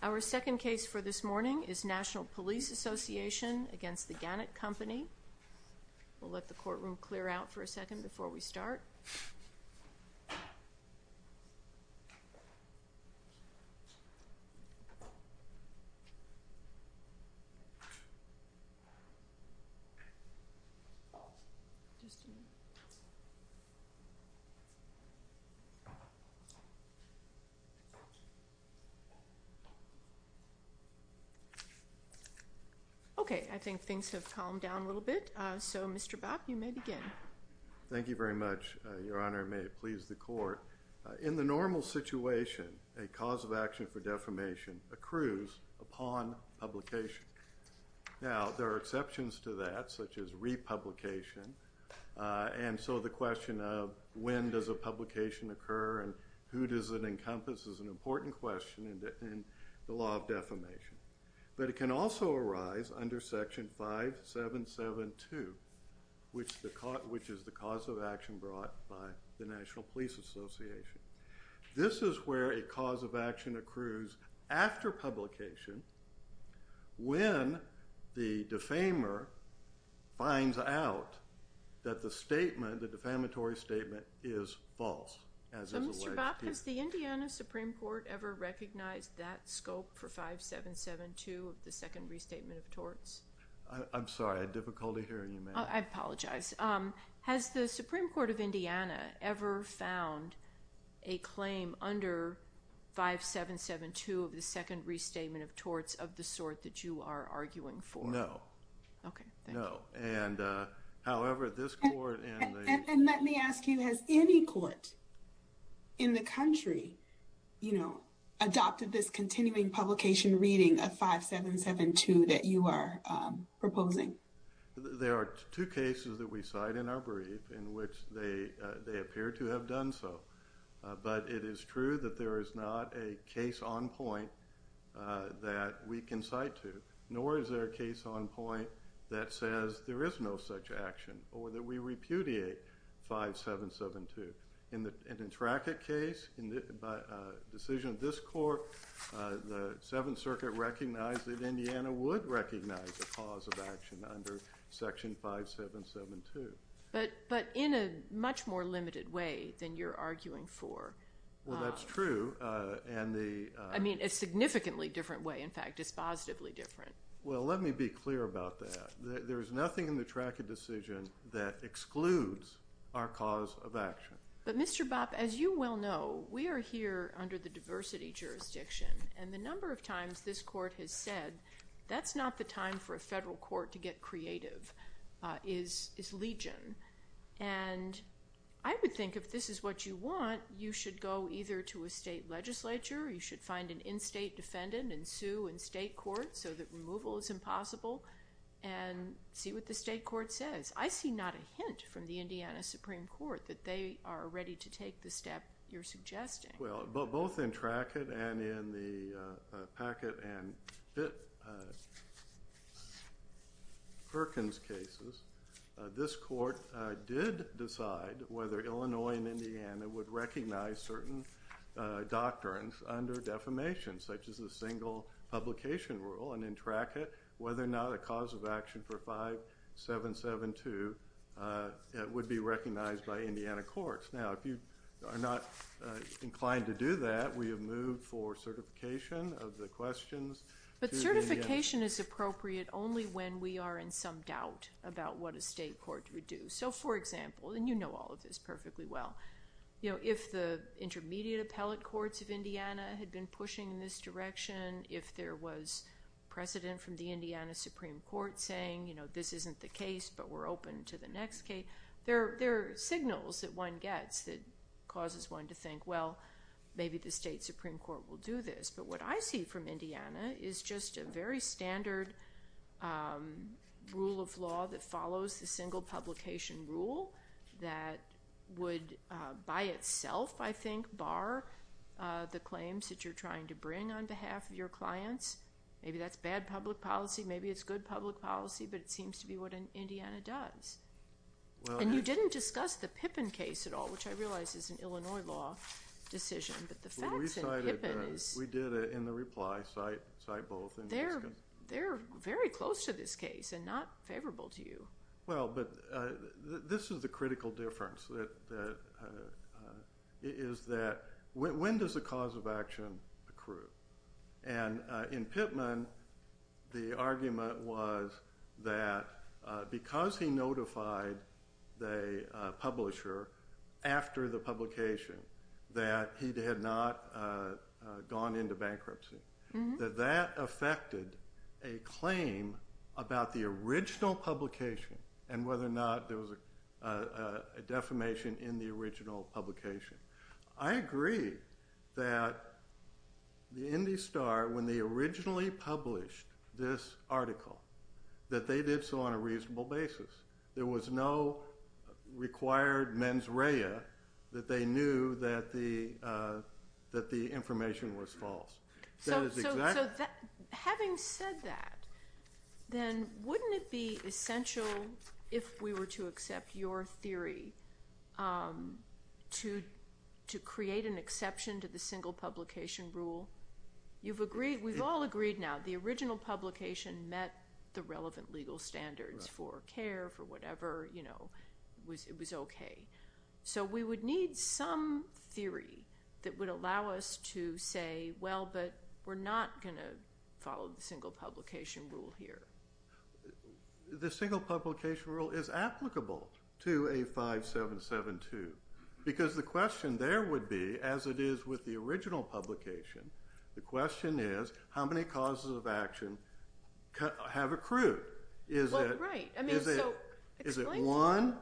Our second case for this morning is National Police Association v. The Gannett Company. We'll let the courtroom clear out for a second before we start. Okay, I think things have calmed down a little bit. So, Mr. Bopp, you may begin. Thank you very much, Your Honor, and may it please the Court. In the normal situation, a cause of action for defamation accrues upon publication. Now, there are exceptions to that, such as republication. And so the question of when does a publication occur and who does it encompass is an important question in the law of defamation. But it can also arise under Section 5772, which is the cause of action brought by the National Police Association. This is where a cause of action accrues after publication when the defamer finds out that the defamatory statement is false, as is alleged here. So, Mr. Bopp, has the Indiana Supreme Court ever recognized that scope for 5772 of the Second Restatement of Torts? I'm sorry, I had difficulty hearing you, ma'am. I apologize. Has the Supreme Court of Indiana ever found a claim under 5772 of the Second Restatement of Torts of the sort that you are arguing for? No. Okay, thank you. No. And, however, this Court and the… And let me ask you, has any court in the country, you know, adopted this continuing publication reading of 5772 that you are proposing? There are two cases that we cite in our brief in which they appear to have done so. But it is true that there is not a case on point that we can cite to, nor is there a case on point that says there is no such action or that we repudiate 5772. In the Trackett case, in the decision of this Court, the Seventh Circuit recognized that Indiana would recognize the cause of action under Section 5772. But in a much more limited way than you're arguing for. Well, that's true. I mean, a significantly different way, in fact. It's positively different. Well, let me be clear about that. There is nothing in the Trackett decision that excludes our cause of action. But, Mr. Bopp, as you well know, we are here under the diversity jurisdiction. And the number of times this Court has said that's not the time for a federal court to get creative is legion. And I would think if this is what you want, you should go either to a state legislature or you should find an in-state defendant and sue in state court so that removal is impossible. And see what the state court says. I see not a hint from the Indiana Supreme Court that they are ready to take the step you're suggesting. Well, both in Trackett and in the Packett and Perkins cases, this Court did decide whether Illinois and Indiana would recognize certain doctrines under defamation, such as the single publication rule, and in Trackett, whether or not a cause of action for 5772 would be recognized by Indiana courts. Now, if you are not inclined to do that, we have moved for certification of the questions. But certification is appropriate only when we are in some doubt about what a state court would do. So, for example, and you know all of this perfectly well, if the intermediate appellate courts of Indiana had been pushing in this direction, if there was precedent from the Indiana Supreme Court saying, you know, this isn't the case, but we're open to the next case, there are signals that one gets that causes one to think, well, maybe the state Supreme Court will do this. But what I see from Indiana is just a very standard rule of law that follows the single publication rule that would by itself, I think, bar the claims that you're trying to bring on behalf of your clients. Maybe that's bad public policy, maybe it's good public policy, but it seems to be what Indiana does. And you didn't discuss the Pippin case at all, which I realize is an Illinois law decision. We did it in the reply, cite both. They're very close to this case and not favorable to you. Well, but this is the critical difference, is that when does the cause of action accrue? And in Pippin, the argument was that because he notified the publisher after the publication that he had not gone into bankruptcy, that that affected a claim about the original publication and whether or not there was a defamation in the original publication. I agree that the Indy Star, when they originally published this article, that they did so on a reasonable basis. There was no required mens rea that they knew that the information was false. So having said that, then wouldn't it be essential, if we were to accept your theory, to create an exception to the single publication rule? We've all agreed now, the original publication met the relevant legal standards for care, for whatever, it was okay. So we would need some theory that would allow us to say, well, but we're not going to follow the single publication rule here. The single publication rule is applicable to a 5772, because the question there would be, as it is with the original publication, the question is, how many causes of action have accrued? Is it one?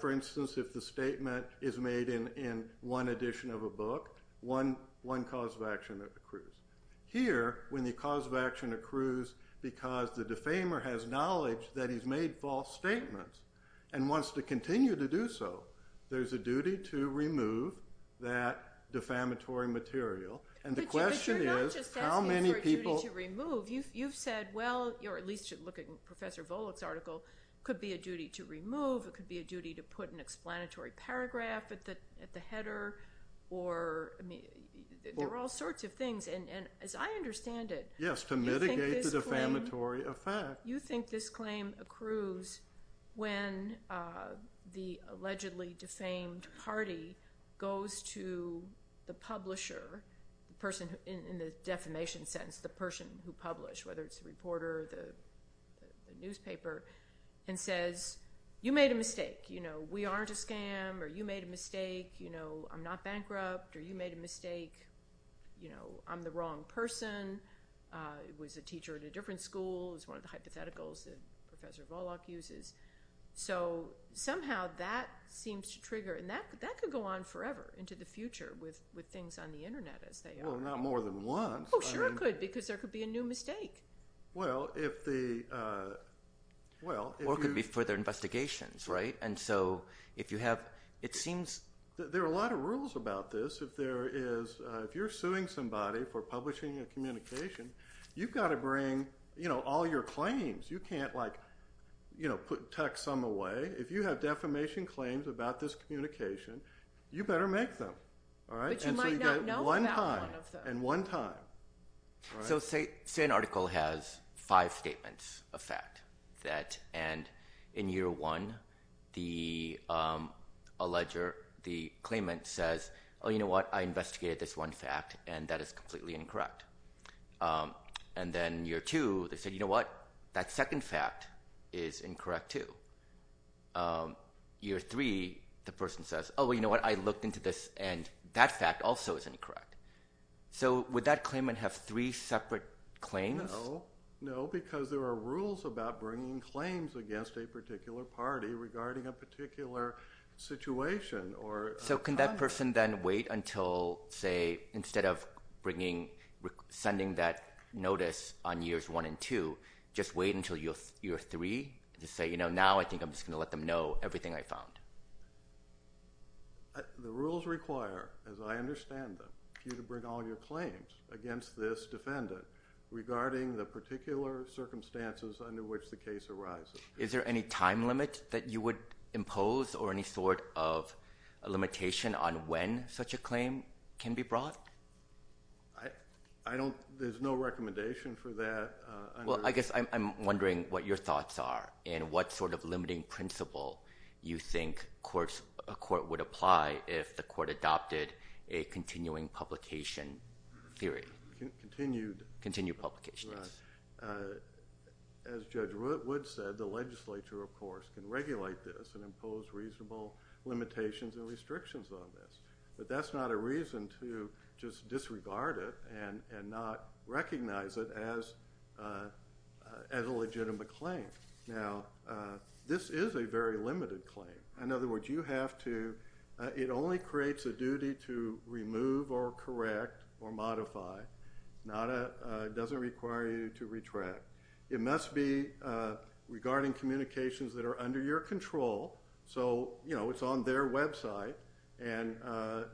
For instance, if the statement is made in one edition of a book, one cause of action accrues. Here, when the cause of action accrues because the defamer has knowledge that he's made false statements and wants to continue to do so, there's a duty to remove that defamatory material. But you're not just asking for a duty to remove. You've said, well, or at least you should look at Professor Volokh's article, it could be a duty to remove, it could be a duty to put an explanatory paragraph at the header, there are all sorts of things, and as I understand it, Yes, to mitigate the defamatory effect. You think this claim accrues when the allegedly defamed party goes to the publisher, the person in the defamation sentence, the person who published, whether it's the reporter or the newspaper, and says, you made a mistake. We aren't a scam, or you made a mistake. I'm not bankrupt, or you made a mistake. I'm the wrong person. It was a teacher at a different school. It was one of the hypotheticals that Professor Volokh uses. So somehow that seems to trigger, and that could go on forever into the future with things on the internet as they are. Well, not more than once. Oh, sure it could, because there could be a new mistake. Or it could be further investigations, right? There are a lot of rules about this. If you're suing somebody for publishing a communication, you've got to bring all your claims. You can't put text some away. If you have defamation claims about this communication, you better make them. But you might not know about one of them. And one time. So say an article has five statements of fact. And in year one, the alleger, the claimant says, oh, you know what? I investigated this one fact, and that is completely incorrect. And then year two, they said, you know what? That second fact is incorrect too. Year three, the person says, oh, well, you know what? I looked into this, and that fact also is incorrect. So would that claimant have three separate claims? No, no, because there are rules about bringing claims against a particular party regarding a particular situation. So can that person then wait until, say, instead of sending that notice on years one and two, just wait until year three to say, you know, now I think I'm just going to let them know everything I found? The rules require, as I understand them, for you to bring all your claims against this defendant regarding the particular circumstances under which the case arises. Is there any time limit that you would impose or any sort of limitation on when such a claim can be brought? I don't ‑‑ there's no recommendation for that. Well, I guess I'm wondering what your thoughts are and what sort of limiting principle you think a court would apply if the court adopted a continuing publication theory. Continued. Continued publication, yes. As Judge Wood said, the legislature, of course, can regulate this and impose reasonable limitations and restrictions on this. But that's not a reason to just disregard it and not recognize it as a legitimate claim. Now, this is a very limited claim. In other words, you have to ‑‑ it only creates a duty to remove or correct or modify. It doesn't require you to retract. It must be regarding communications that are under your control. So, you know, it's on their website.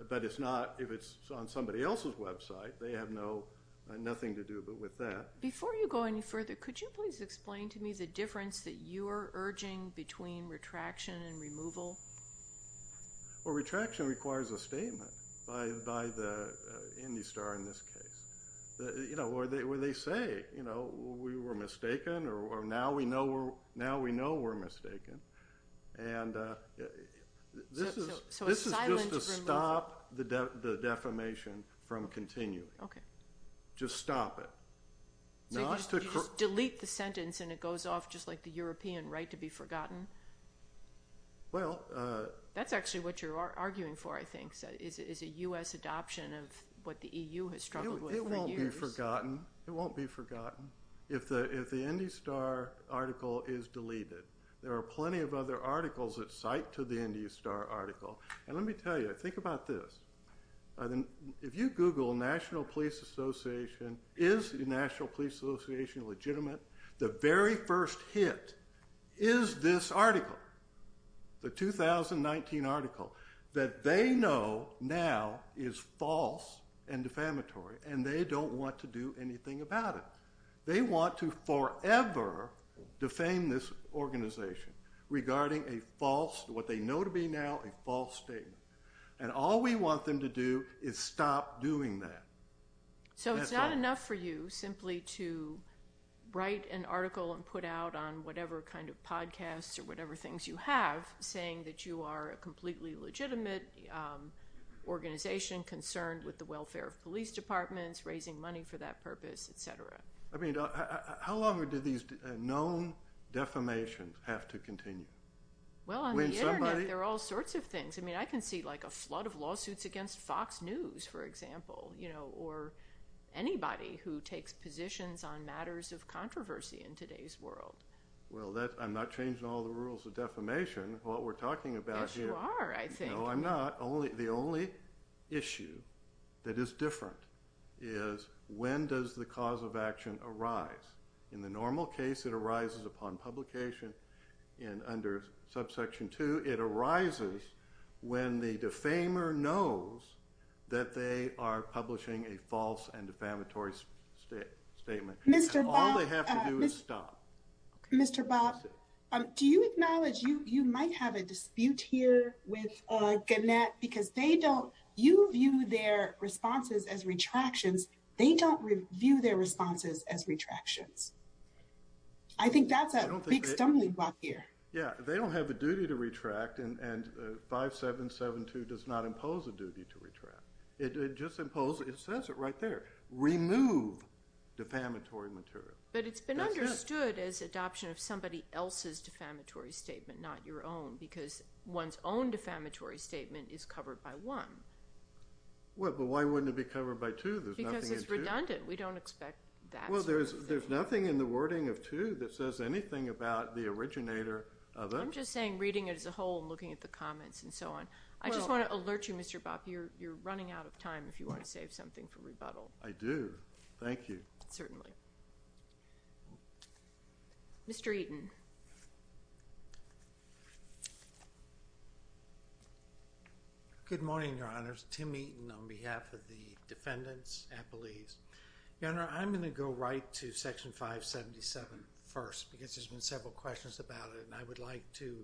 But it's not if it's on somebody else's website. They have nothing to do but with that. Before you go any further, could you please explain to me the difference that you are urging between retraction and removal? Well, retraction requires a statement by the IndyStar in this case. You know, where they say, you know, we were mistaken or now we know we're mistaken. And this is just to stop the defamation from continuing. Okay. Just stop it. So you just delete the sentence and it goes off just like the European right to be forgotten? Well ‑‑ That's actually what you're arguing for, I think, is a U.S. adoption of what the EU has struggled with for years. It won't be forgotten. It won't be forgotten. If the IndyStar article is deleted, there are plenty of other articles that cite to the IndyStar article. And let me tell you, think about this. If you Google National Police Association, is the National Police Association legitimate? The very first hit is this article, the 2019 article, that they know now is false and defamatory. And they don't want to do anything about it. They want to forever defame this organization regarding a false, what they know to be now, a false statement. And all we want them to do is stop doing that. So it's not enough for you simply to write an article and put out on whatever kind of podcast or whatever things you have saying that you are a completely legitimate organization concerned with the welfare of police departments, raising money for that purpose, et cetera. I mean, how long do these known defamations have to continue? Well, on the Internet, there are all sorts of things. I mean, I can see like a flood of lawsuits against Fox News, for example, or anybody who takes positions on matters of controversy in today's world. Well, I'm not changing all the rules of defamation, what we're talking about here. Yes, you are, I think. No, I'm not. The only issue that is different is when does the cause of action arise? In the normal case, it arises upon publication. And under subsection 2, it arises when the defamer knows that they are publishing a false and defamatory statement. Mr. Bob. All they have to do is stop. Mr. Bob, do you acknowledge you might have a dispute here with Gannett, because you view their responses as retractions. They don't view their responses as retractions. I think that's a big stumbling block here. Yeah, they don't have a duty to retract, and 5772 does not impose a duty to retract. It just says it right there, remove defamatory material. But it's been understood as adoption of somebody else's defamatory statement, not your own, because one's own defamatory statement is covered by one. Well, but why wouldn't it be covered by two? Because it's redundant. We don't expect that sort of thing. Well, there's nothing in the wording of two that says anything about the originator of it. I'm just saying reading it as a whole and looking at the comments and so on. I just want to alert you, Mr. Bob, you're running out of time if you want to save something for rebuttal. I do. Thank you. Certainly. Mr. Eaton. Good morning, Your Honors. Tim Eaton on behalf of the defendants and police. Your Honor, I'm going to go right to Section 577 first because there's been several questions about it, and I would like to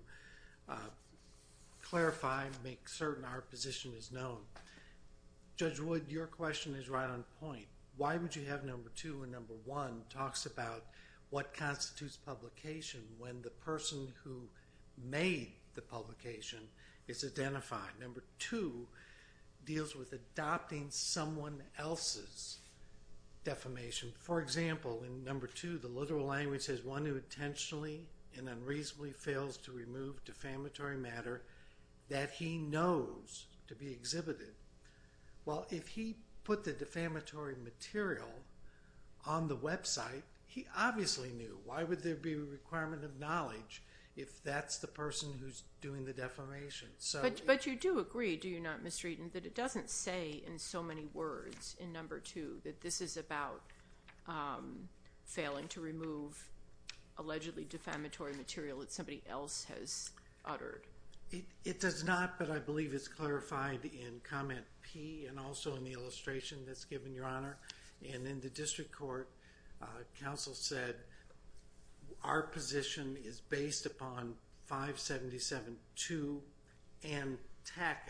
clarify and make certain our position is known. Judge Wood, your question is right on point. Why would you have number two when number one talks about what constitutes publication when the person who made the publication is identified? Number two deals with adopting someone else's defamation. For example, in number two, the literal language says, one who intentionally and unreasonably fails to remove defamatory matter that he knows to be exhibited. Well, if he put the defamatory material on the website, he obviously knew. Why would there be a requirement of knowledge if that's the person who's doing the defamation? But you do agree, do you not, Mr. Eaton, that it doesn't say in so many words in number two that this is about failing to remove allegedly defamatory material that somebody else has uttered? It does not, but I believe it's clarified in Comment P and also in the illustration that's given, Your Honor. And in the district court, counsel said our position is based upon 577-2 and Tackett.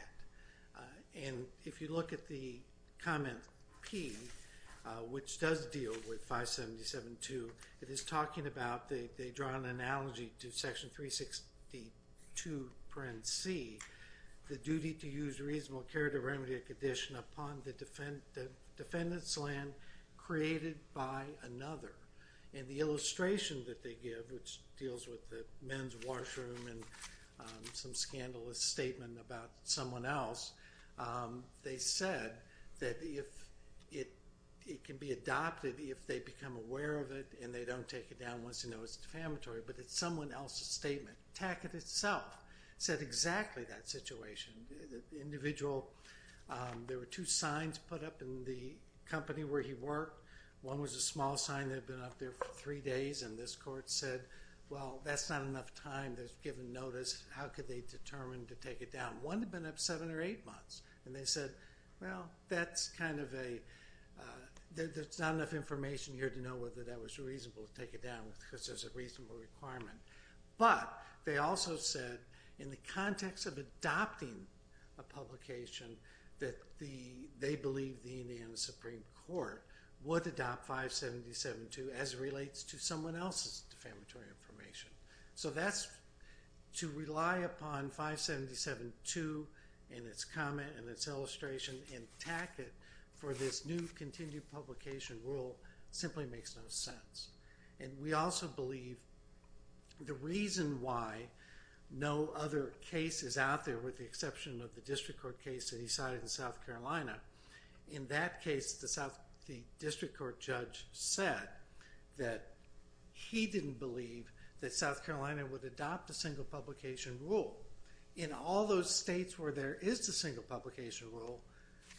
And if you look at the Comment P, which does deal with 577-2, it is talking about they draw an analogy to Section 362, Parent C, the duty to use reasonable care to remedy a condition upon the defendant's land created by another. And the illustration that they give, which deals with the men's washroom and some scandalous statement about someone else, they said that it can be adopted if they become aware of it and they don't take it down once they know it's defamatory, but it's someone else's statement. Tackett itself said exactly that situation. The individual, there were two signs put up in the company where he worked. One was a small sign that had been up there for three days, and this court said, well, that's not enough time that's given notice. How could they determine to take it down? One had been up seven or eight months, and they said, well, that's kind of a, there's not enough information here to know whether that was reasonable to take it down because there's a reasonable requirement. But they also said in the context of adopting a publication that they believe the Indiana Supreme Court would adopt 577-2 as it relates to someone else's defamatory information. So that's to rely upon 577-2 and its comment and its illustration and Tackett for this new continued publication rule simply makes no sense. And we also believe the reason why no other case is out there with the exception of the district court case that he cited in South Carolina, in that case the district court judge said that he didn't believe that South Carolina would adopt a single publication rule. In all those states where there is the single publication rule,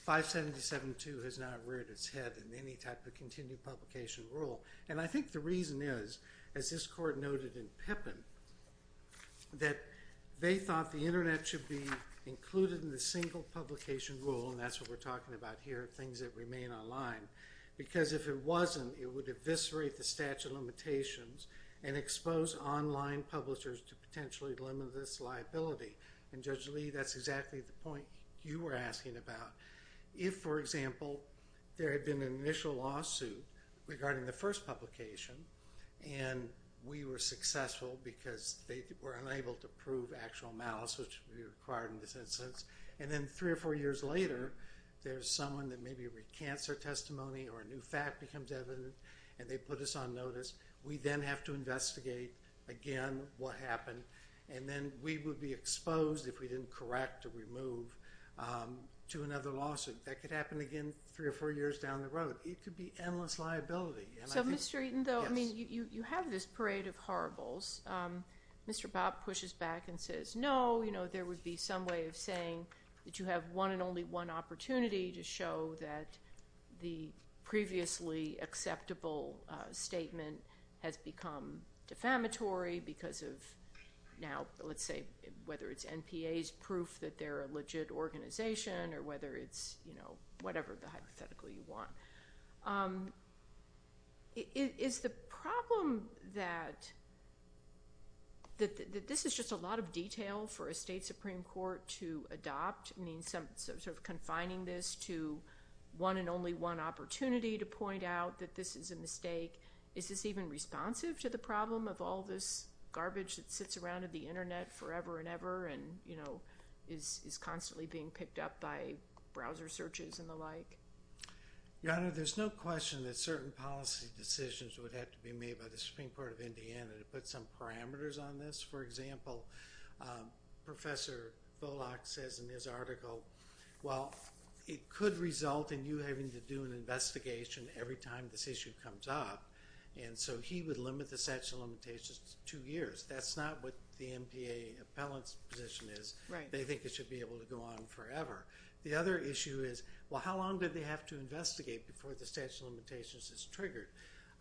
577-2 has not reared its head in any type of continued publication rule. And I think the reason is, as this court noted in Pippin, that they thought the Internet should be included in the single publication rule, and that's what we're talking about here, things that remain online, because if it wasn't, it would eviscerate the statute of limitations and expose online publishers to potentially limit this liability. And Judge Lee, that's exactly the point you were asking about. If, for example, there had been an initial lawsuit regarding the first publication and we were successful because they were unable to prove actual malice, which would be required in this instance, and then three or four years later there's someone that maybe recants their testimony or a new fact becomes evident and they put us on notice, we then have to investigate again what happened, and then we would be exposed if we didn't correct or remove to another lawsuit. That could happen again three or four years down the road. It could be endless liability. So, Mr. Eaton, though, you have this parade of horribles. Mr. Bob pushes back and says, No, there would be some way of saying that you have one and only one opportunity to show that the previously acceptable statement has become defamatory because of now, let's say, whether it's NPA's proof that they're a legit organization or whether it's whatever the hypothetical you want. Is the problem that this is just a lot of detail for a state supreme court to adopt? I mean, sort of confining this to one and only one opportunity to point out that this is a mistake. Is this even responsive to the problem of all this garbage that sits around in the Internet forever and ever and is constantly being picked up by browser searches and the like? Your Honor, there's no question that certain policy decisions would have to be made by the Supreme Court of Indiana to put some parameters on this. For example, Professor Volokh says in his article, Well, it could result in you having to do an investigation every time this issue comes up. And so he would limit the statute of limitations to two years. That's not what the NPA appellant's position is. They think it should be able to go on forever. The other issue is, well, how long do they have to investigate before the statute of limitations is triggered?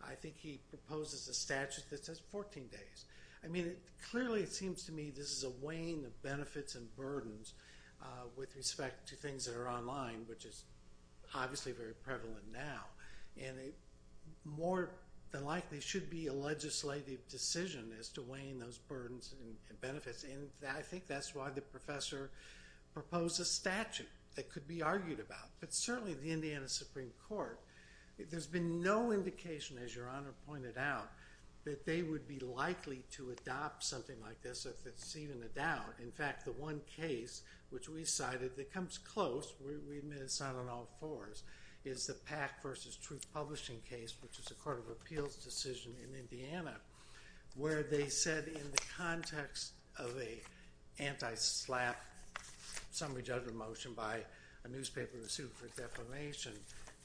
I think he proposes a statute that says 14 days. I mean, clearly it seems to me this is a weighing of benefits and burdens with respect to things that are online, which is obviously very prevalent now. And it more than likely should be a legislative decision as to weighing those burdens and benefits. And I think that's why the professor proposed a statute that could be argued about. But certainly the Indiana Supreme Court, there's been no indication, as Your Honor pointed out, that they would be likely to adopt something like this if it's even a doubt. In fact, the one case which we cited that comes close, we admit it's not on all fours, is the Pack v. Truth Publishing case, which is a court of appeals decision in Indiana, where they said in the context of an anti-SLAPP summary judgment motion by a newspaper in a suit for defamation,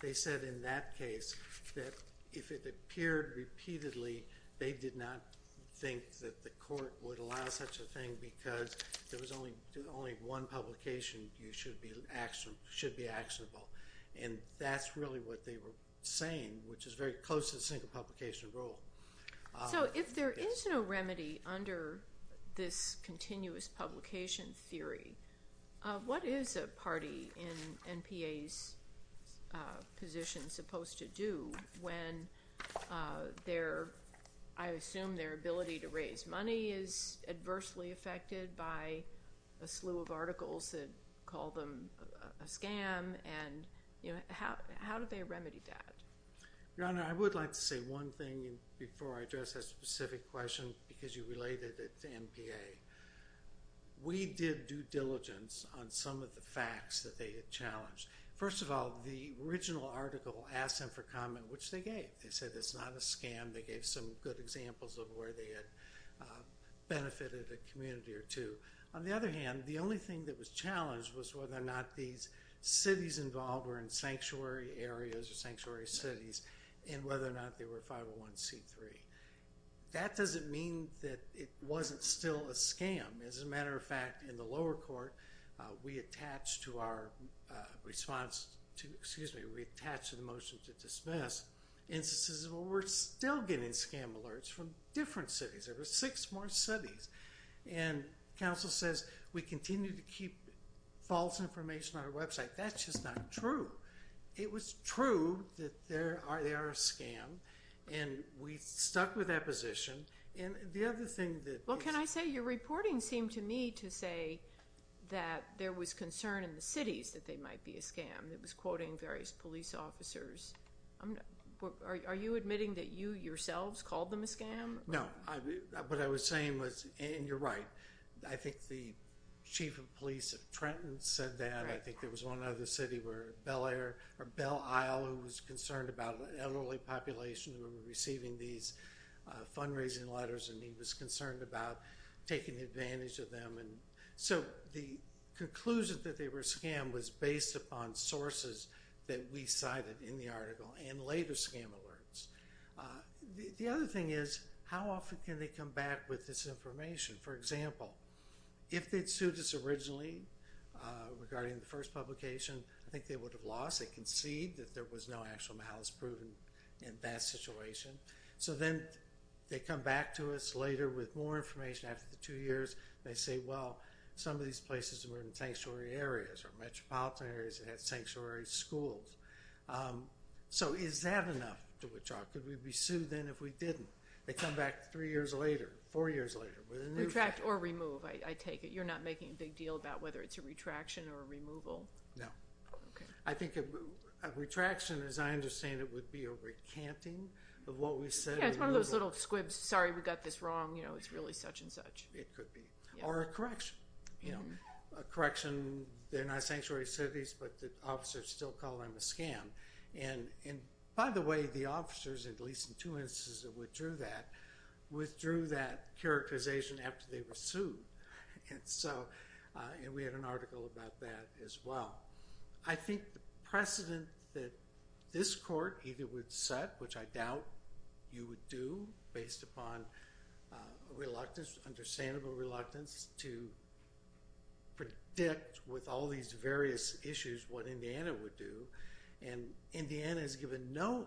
they said in that case that if it appeared repeatedly, they did not think that the court would allow such a thing because there was only one publication you should be actionable. And that's really what they were saying, which is very close to the single publication rule. So if there is no remedy under this continuous publication theory, what is a party in NPA's position supposed to do when I assume their ability to raise money is adversely affected by a slew of articles that call them a scam? And how do they remedy that? Your Honor, I would like to say one thing before I address that specific question because you related it to NPA. We did due diligence on some of the facts that they had challenged. First of all, the original article asked them for comment, which they gave. They said it's not a scam. They gave some good examples of where they had benefited a community or two. On the other hand, the only thing that was challenged was whether or not these cities involved were in sanctuary areas or sanctuary cities and whether or not they were 501C3. That doesn't mean that it wasn't still a scam. As a matter of fact, in the lower court, we attached to the motion to dismiss instances where we're still getting scam alerts from different cities. There were six more cities. And counsel says we continue to keep false information on our website. That's just not true. It was true that they are a scam. And we stuck with that position. And the other thing that— Well, can I say your reporting seemed to me to say that there was concern in the cities that they might be a scam. It was quoting various police officers. Are you admitting that you yourselves called them a scam? No. What I was saying was—and you're right. I think the chief of police at Trenton said that. I think there was one other city where Bell Isle was concerned about an elderly population who were receiving these fundraising letters, and he was concerned about taking advantage of them. So the conclusion that they were a scam was based upon sources that we cited in the article and later scam alerts. The other thing is, how often can they come back with this information? For example, if they'd sued us originally regarding the first publication, I think they would have lost. They conceded that there was no actual malice proven in that situation. So then they come back to us later with more information after the two years. They say, well, some of these places were in sanctuary areas or metropolitan areas that had sanctuary schools. So is that enough to withdraw? Could we be sued then if we didn't? They come back three years later, four years later with a new— Retract or remove, I take it. You're not making a big deal about whether it's a retraction or a removal? No. Okay. I think a retraction, as I understand it, would be a recanting of what we said— Yeah, it's one of those little squibs. Sorry, we got this wrong. You know, it's really such and such. It could be. Or a correction. You know, a correction. They're not sanctuary cities, but the officers still call them a scam. And by the way, the officers, at least in two instances that withdrew that, withdrew that characterization after they were sued. And we had an article about that as well. I think the precedent that this court either would set, which I doubt you would do based upon reluctance, understandable reluctance to predict with all these various issues what Indiana would do, and Indiana has given no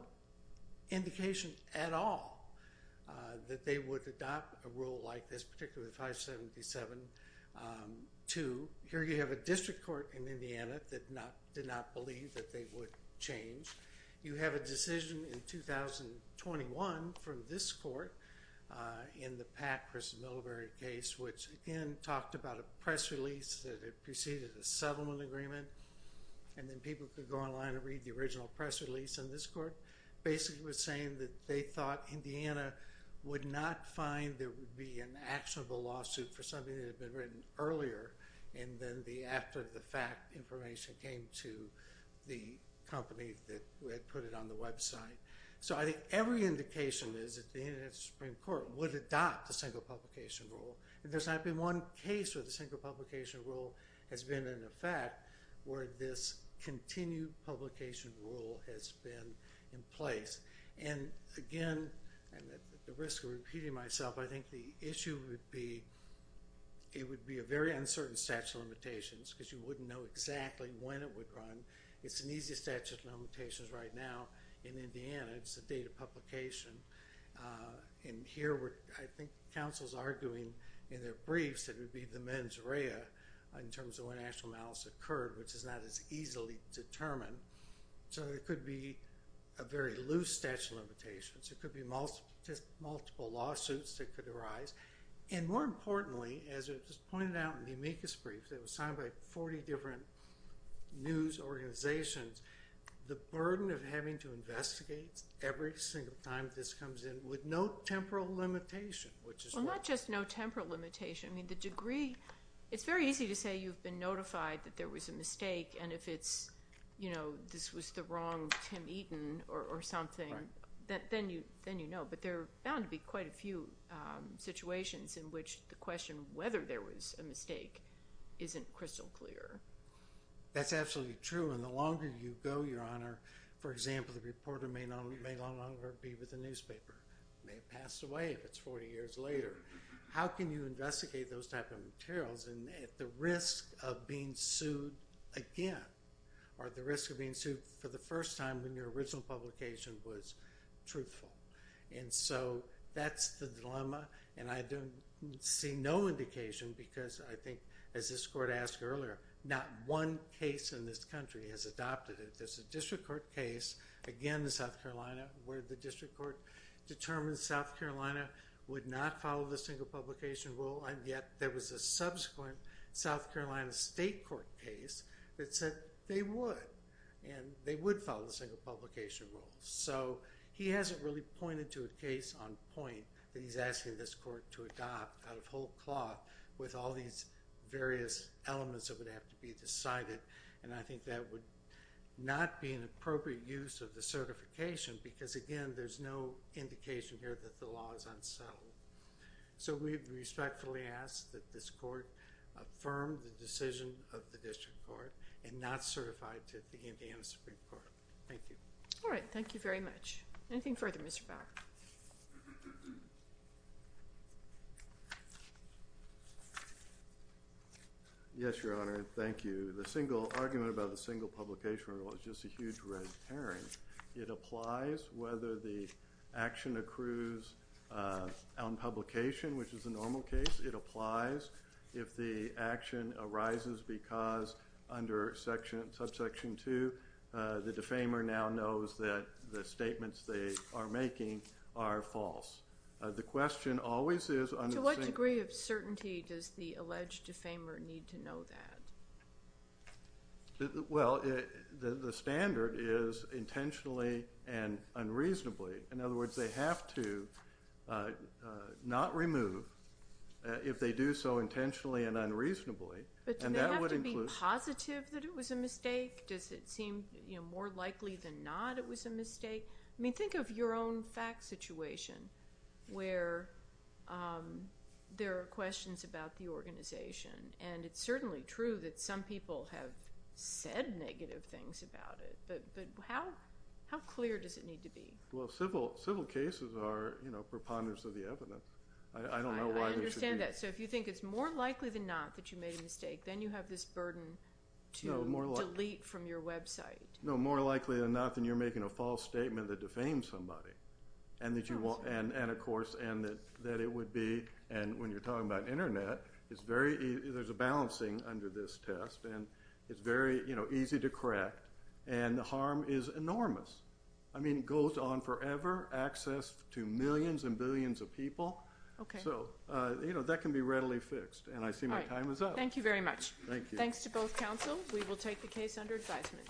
indication at all that they would adopt a rule like this, particularly 577-2. Here you have a district court in Indiana that did not believe that they would change. You have a decision in 2021 from this court in the Pat Christen-Millibury case, which again talked about a press release that it preceded a settlement agreement, and then people could go online and read the original press release in this court. Basically it was saying that they thought Indiana would not find there would be an actionable lawsuit for something that had been written earlier, and then after the fact information came to the company that had put it on the website. So I think every indication is that the Indiana Supreme Court would adopt a single publication rule. And there's not been one case where the single publication rule has been in effect where this continued publication rule has been in place. And again, at the risk of repeating myself, I think the issue would be it would be a very uncertain statute of limitations because you wouldn't know exactly when it would run. It's an easy statute of limitations right now in Indiana. It's the date of publication. And here I think counsel's arguing in their briefs that it would be the mens rea in terms of when actual malice occurred, which is not as easily determined. So it could be a very loose statute of limitations. It could be just multiple lawsuits that could arise. And more importantly, as it was pointed out in the amicus brief that was signed by 40 different news organizations, the burden of having to investigate every single time this comes in with no temporal limitation, which is what... Well, not just no temporal limitation. I mean the degree... It's very easy to say you've been notified that there was a mistake. And if it's, you know, this was the wrong Tim Eaton or something, then you know. But there are bound to be quite a few situations in which the question whether there was a mistake isn't crystal clear. That's absolutely true. And the longer you go, Your Honor, for example, the reporter may no longer be with the newspaper, may have passed away if it's 40 years later. How can you investigate those type of materials at the risk of being sued again or at the risk of being sued for the first time when your original publication was truthful? And so that's the dilemma. And I see no indication because I think, as this court asked earlier, not one case in this country has adopted it. There's a district court case, again in South Carolina, where the district court determined South Carolina would not follow the single publication rule, and yet there was a subsequent South Carolina state court case that said they would, and they would follow the single publication rule. So he hasn't really pointed to a case on point that he's asking this court to adopt out of whole cloth with all these various elements that would have to be decided. And I think that would not be an appropriate use of the certification because, again, there's no indication here that the law is unsettled. So we respectfully ask that this court affirm the decision of the district court and not certify it to the Indiana Supreme Court. Thank you. All right. Thank you very much. Anything further, Mr. Bauer? Yes, Your Honor. Thank you. The single argument about the single publication rule is just a huge red herring. It applies whether the action accrues on publication, which is a normal case. It applies if the action arises because under subsection 2, the defamer now knows that the statements they are making are false. The question always is under the same- Well, the standard is intentionally and unreasonably. In other words, they have to not remove if they do so intentionally and unreasonably. But do they have to be positive that it was a mistake? Does it seem more likely than not it was a mistake? I mean, think of your own fact situation where there are questions about the organization. And it's certainly true that some people have said negative things about it. But how clear does it need to be? Well, civil cases are preponderance of the evidence. I don't know why they should be. I understand that. So if you think it's more likely than not that you made a mistake, then you have this burden to delete from your website. No, more likely than not than you're making a false statement that defames somebody. And, of course, that it would be. And when you're talking about Internet, there's a balancing under this test. And it's very easy to correct. And the harm is enormous. I mean, it goes on forever, access to millions and billions of people. So that can be readily fixed. And I see my time is up. Thank you very much. Thanks to both counsel. We will take the case under advisement.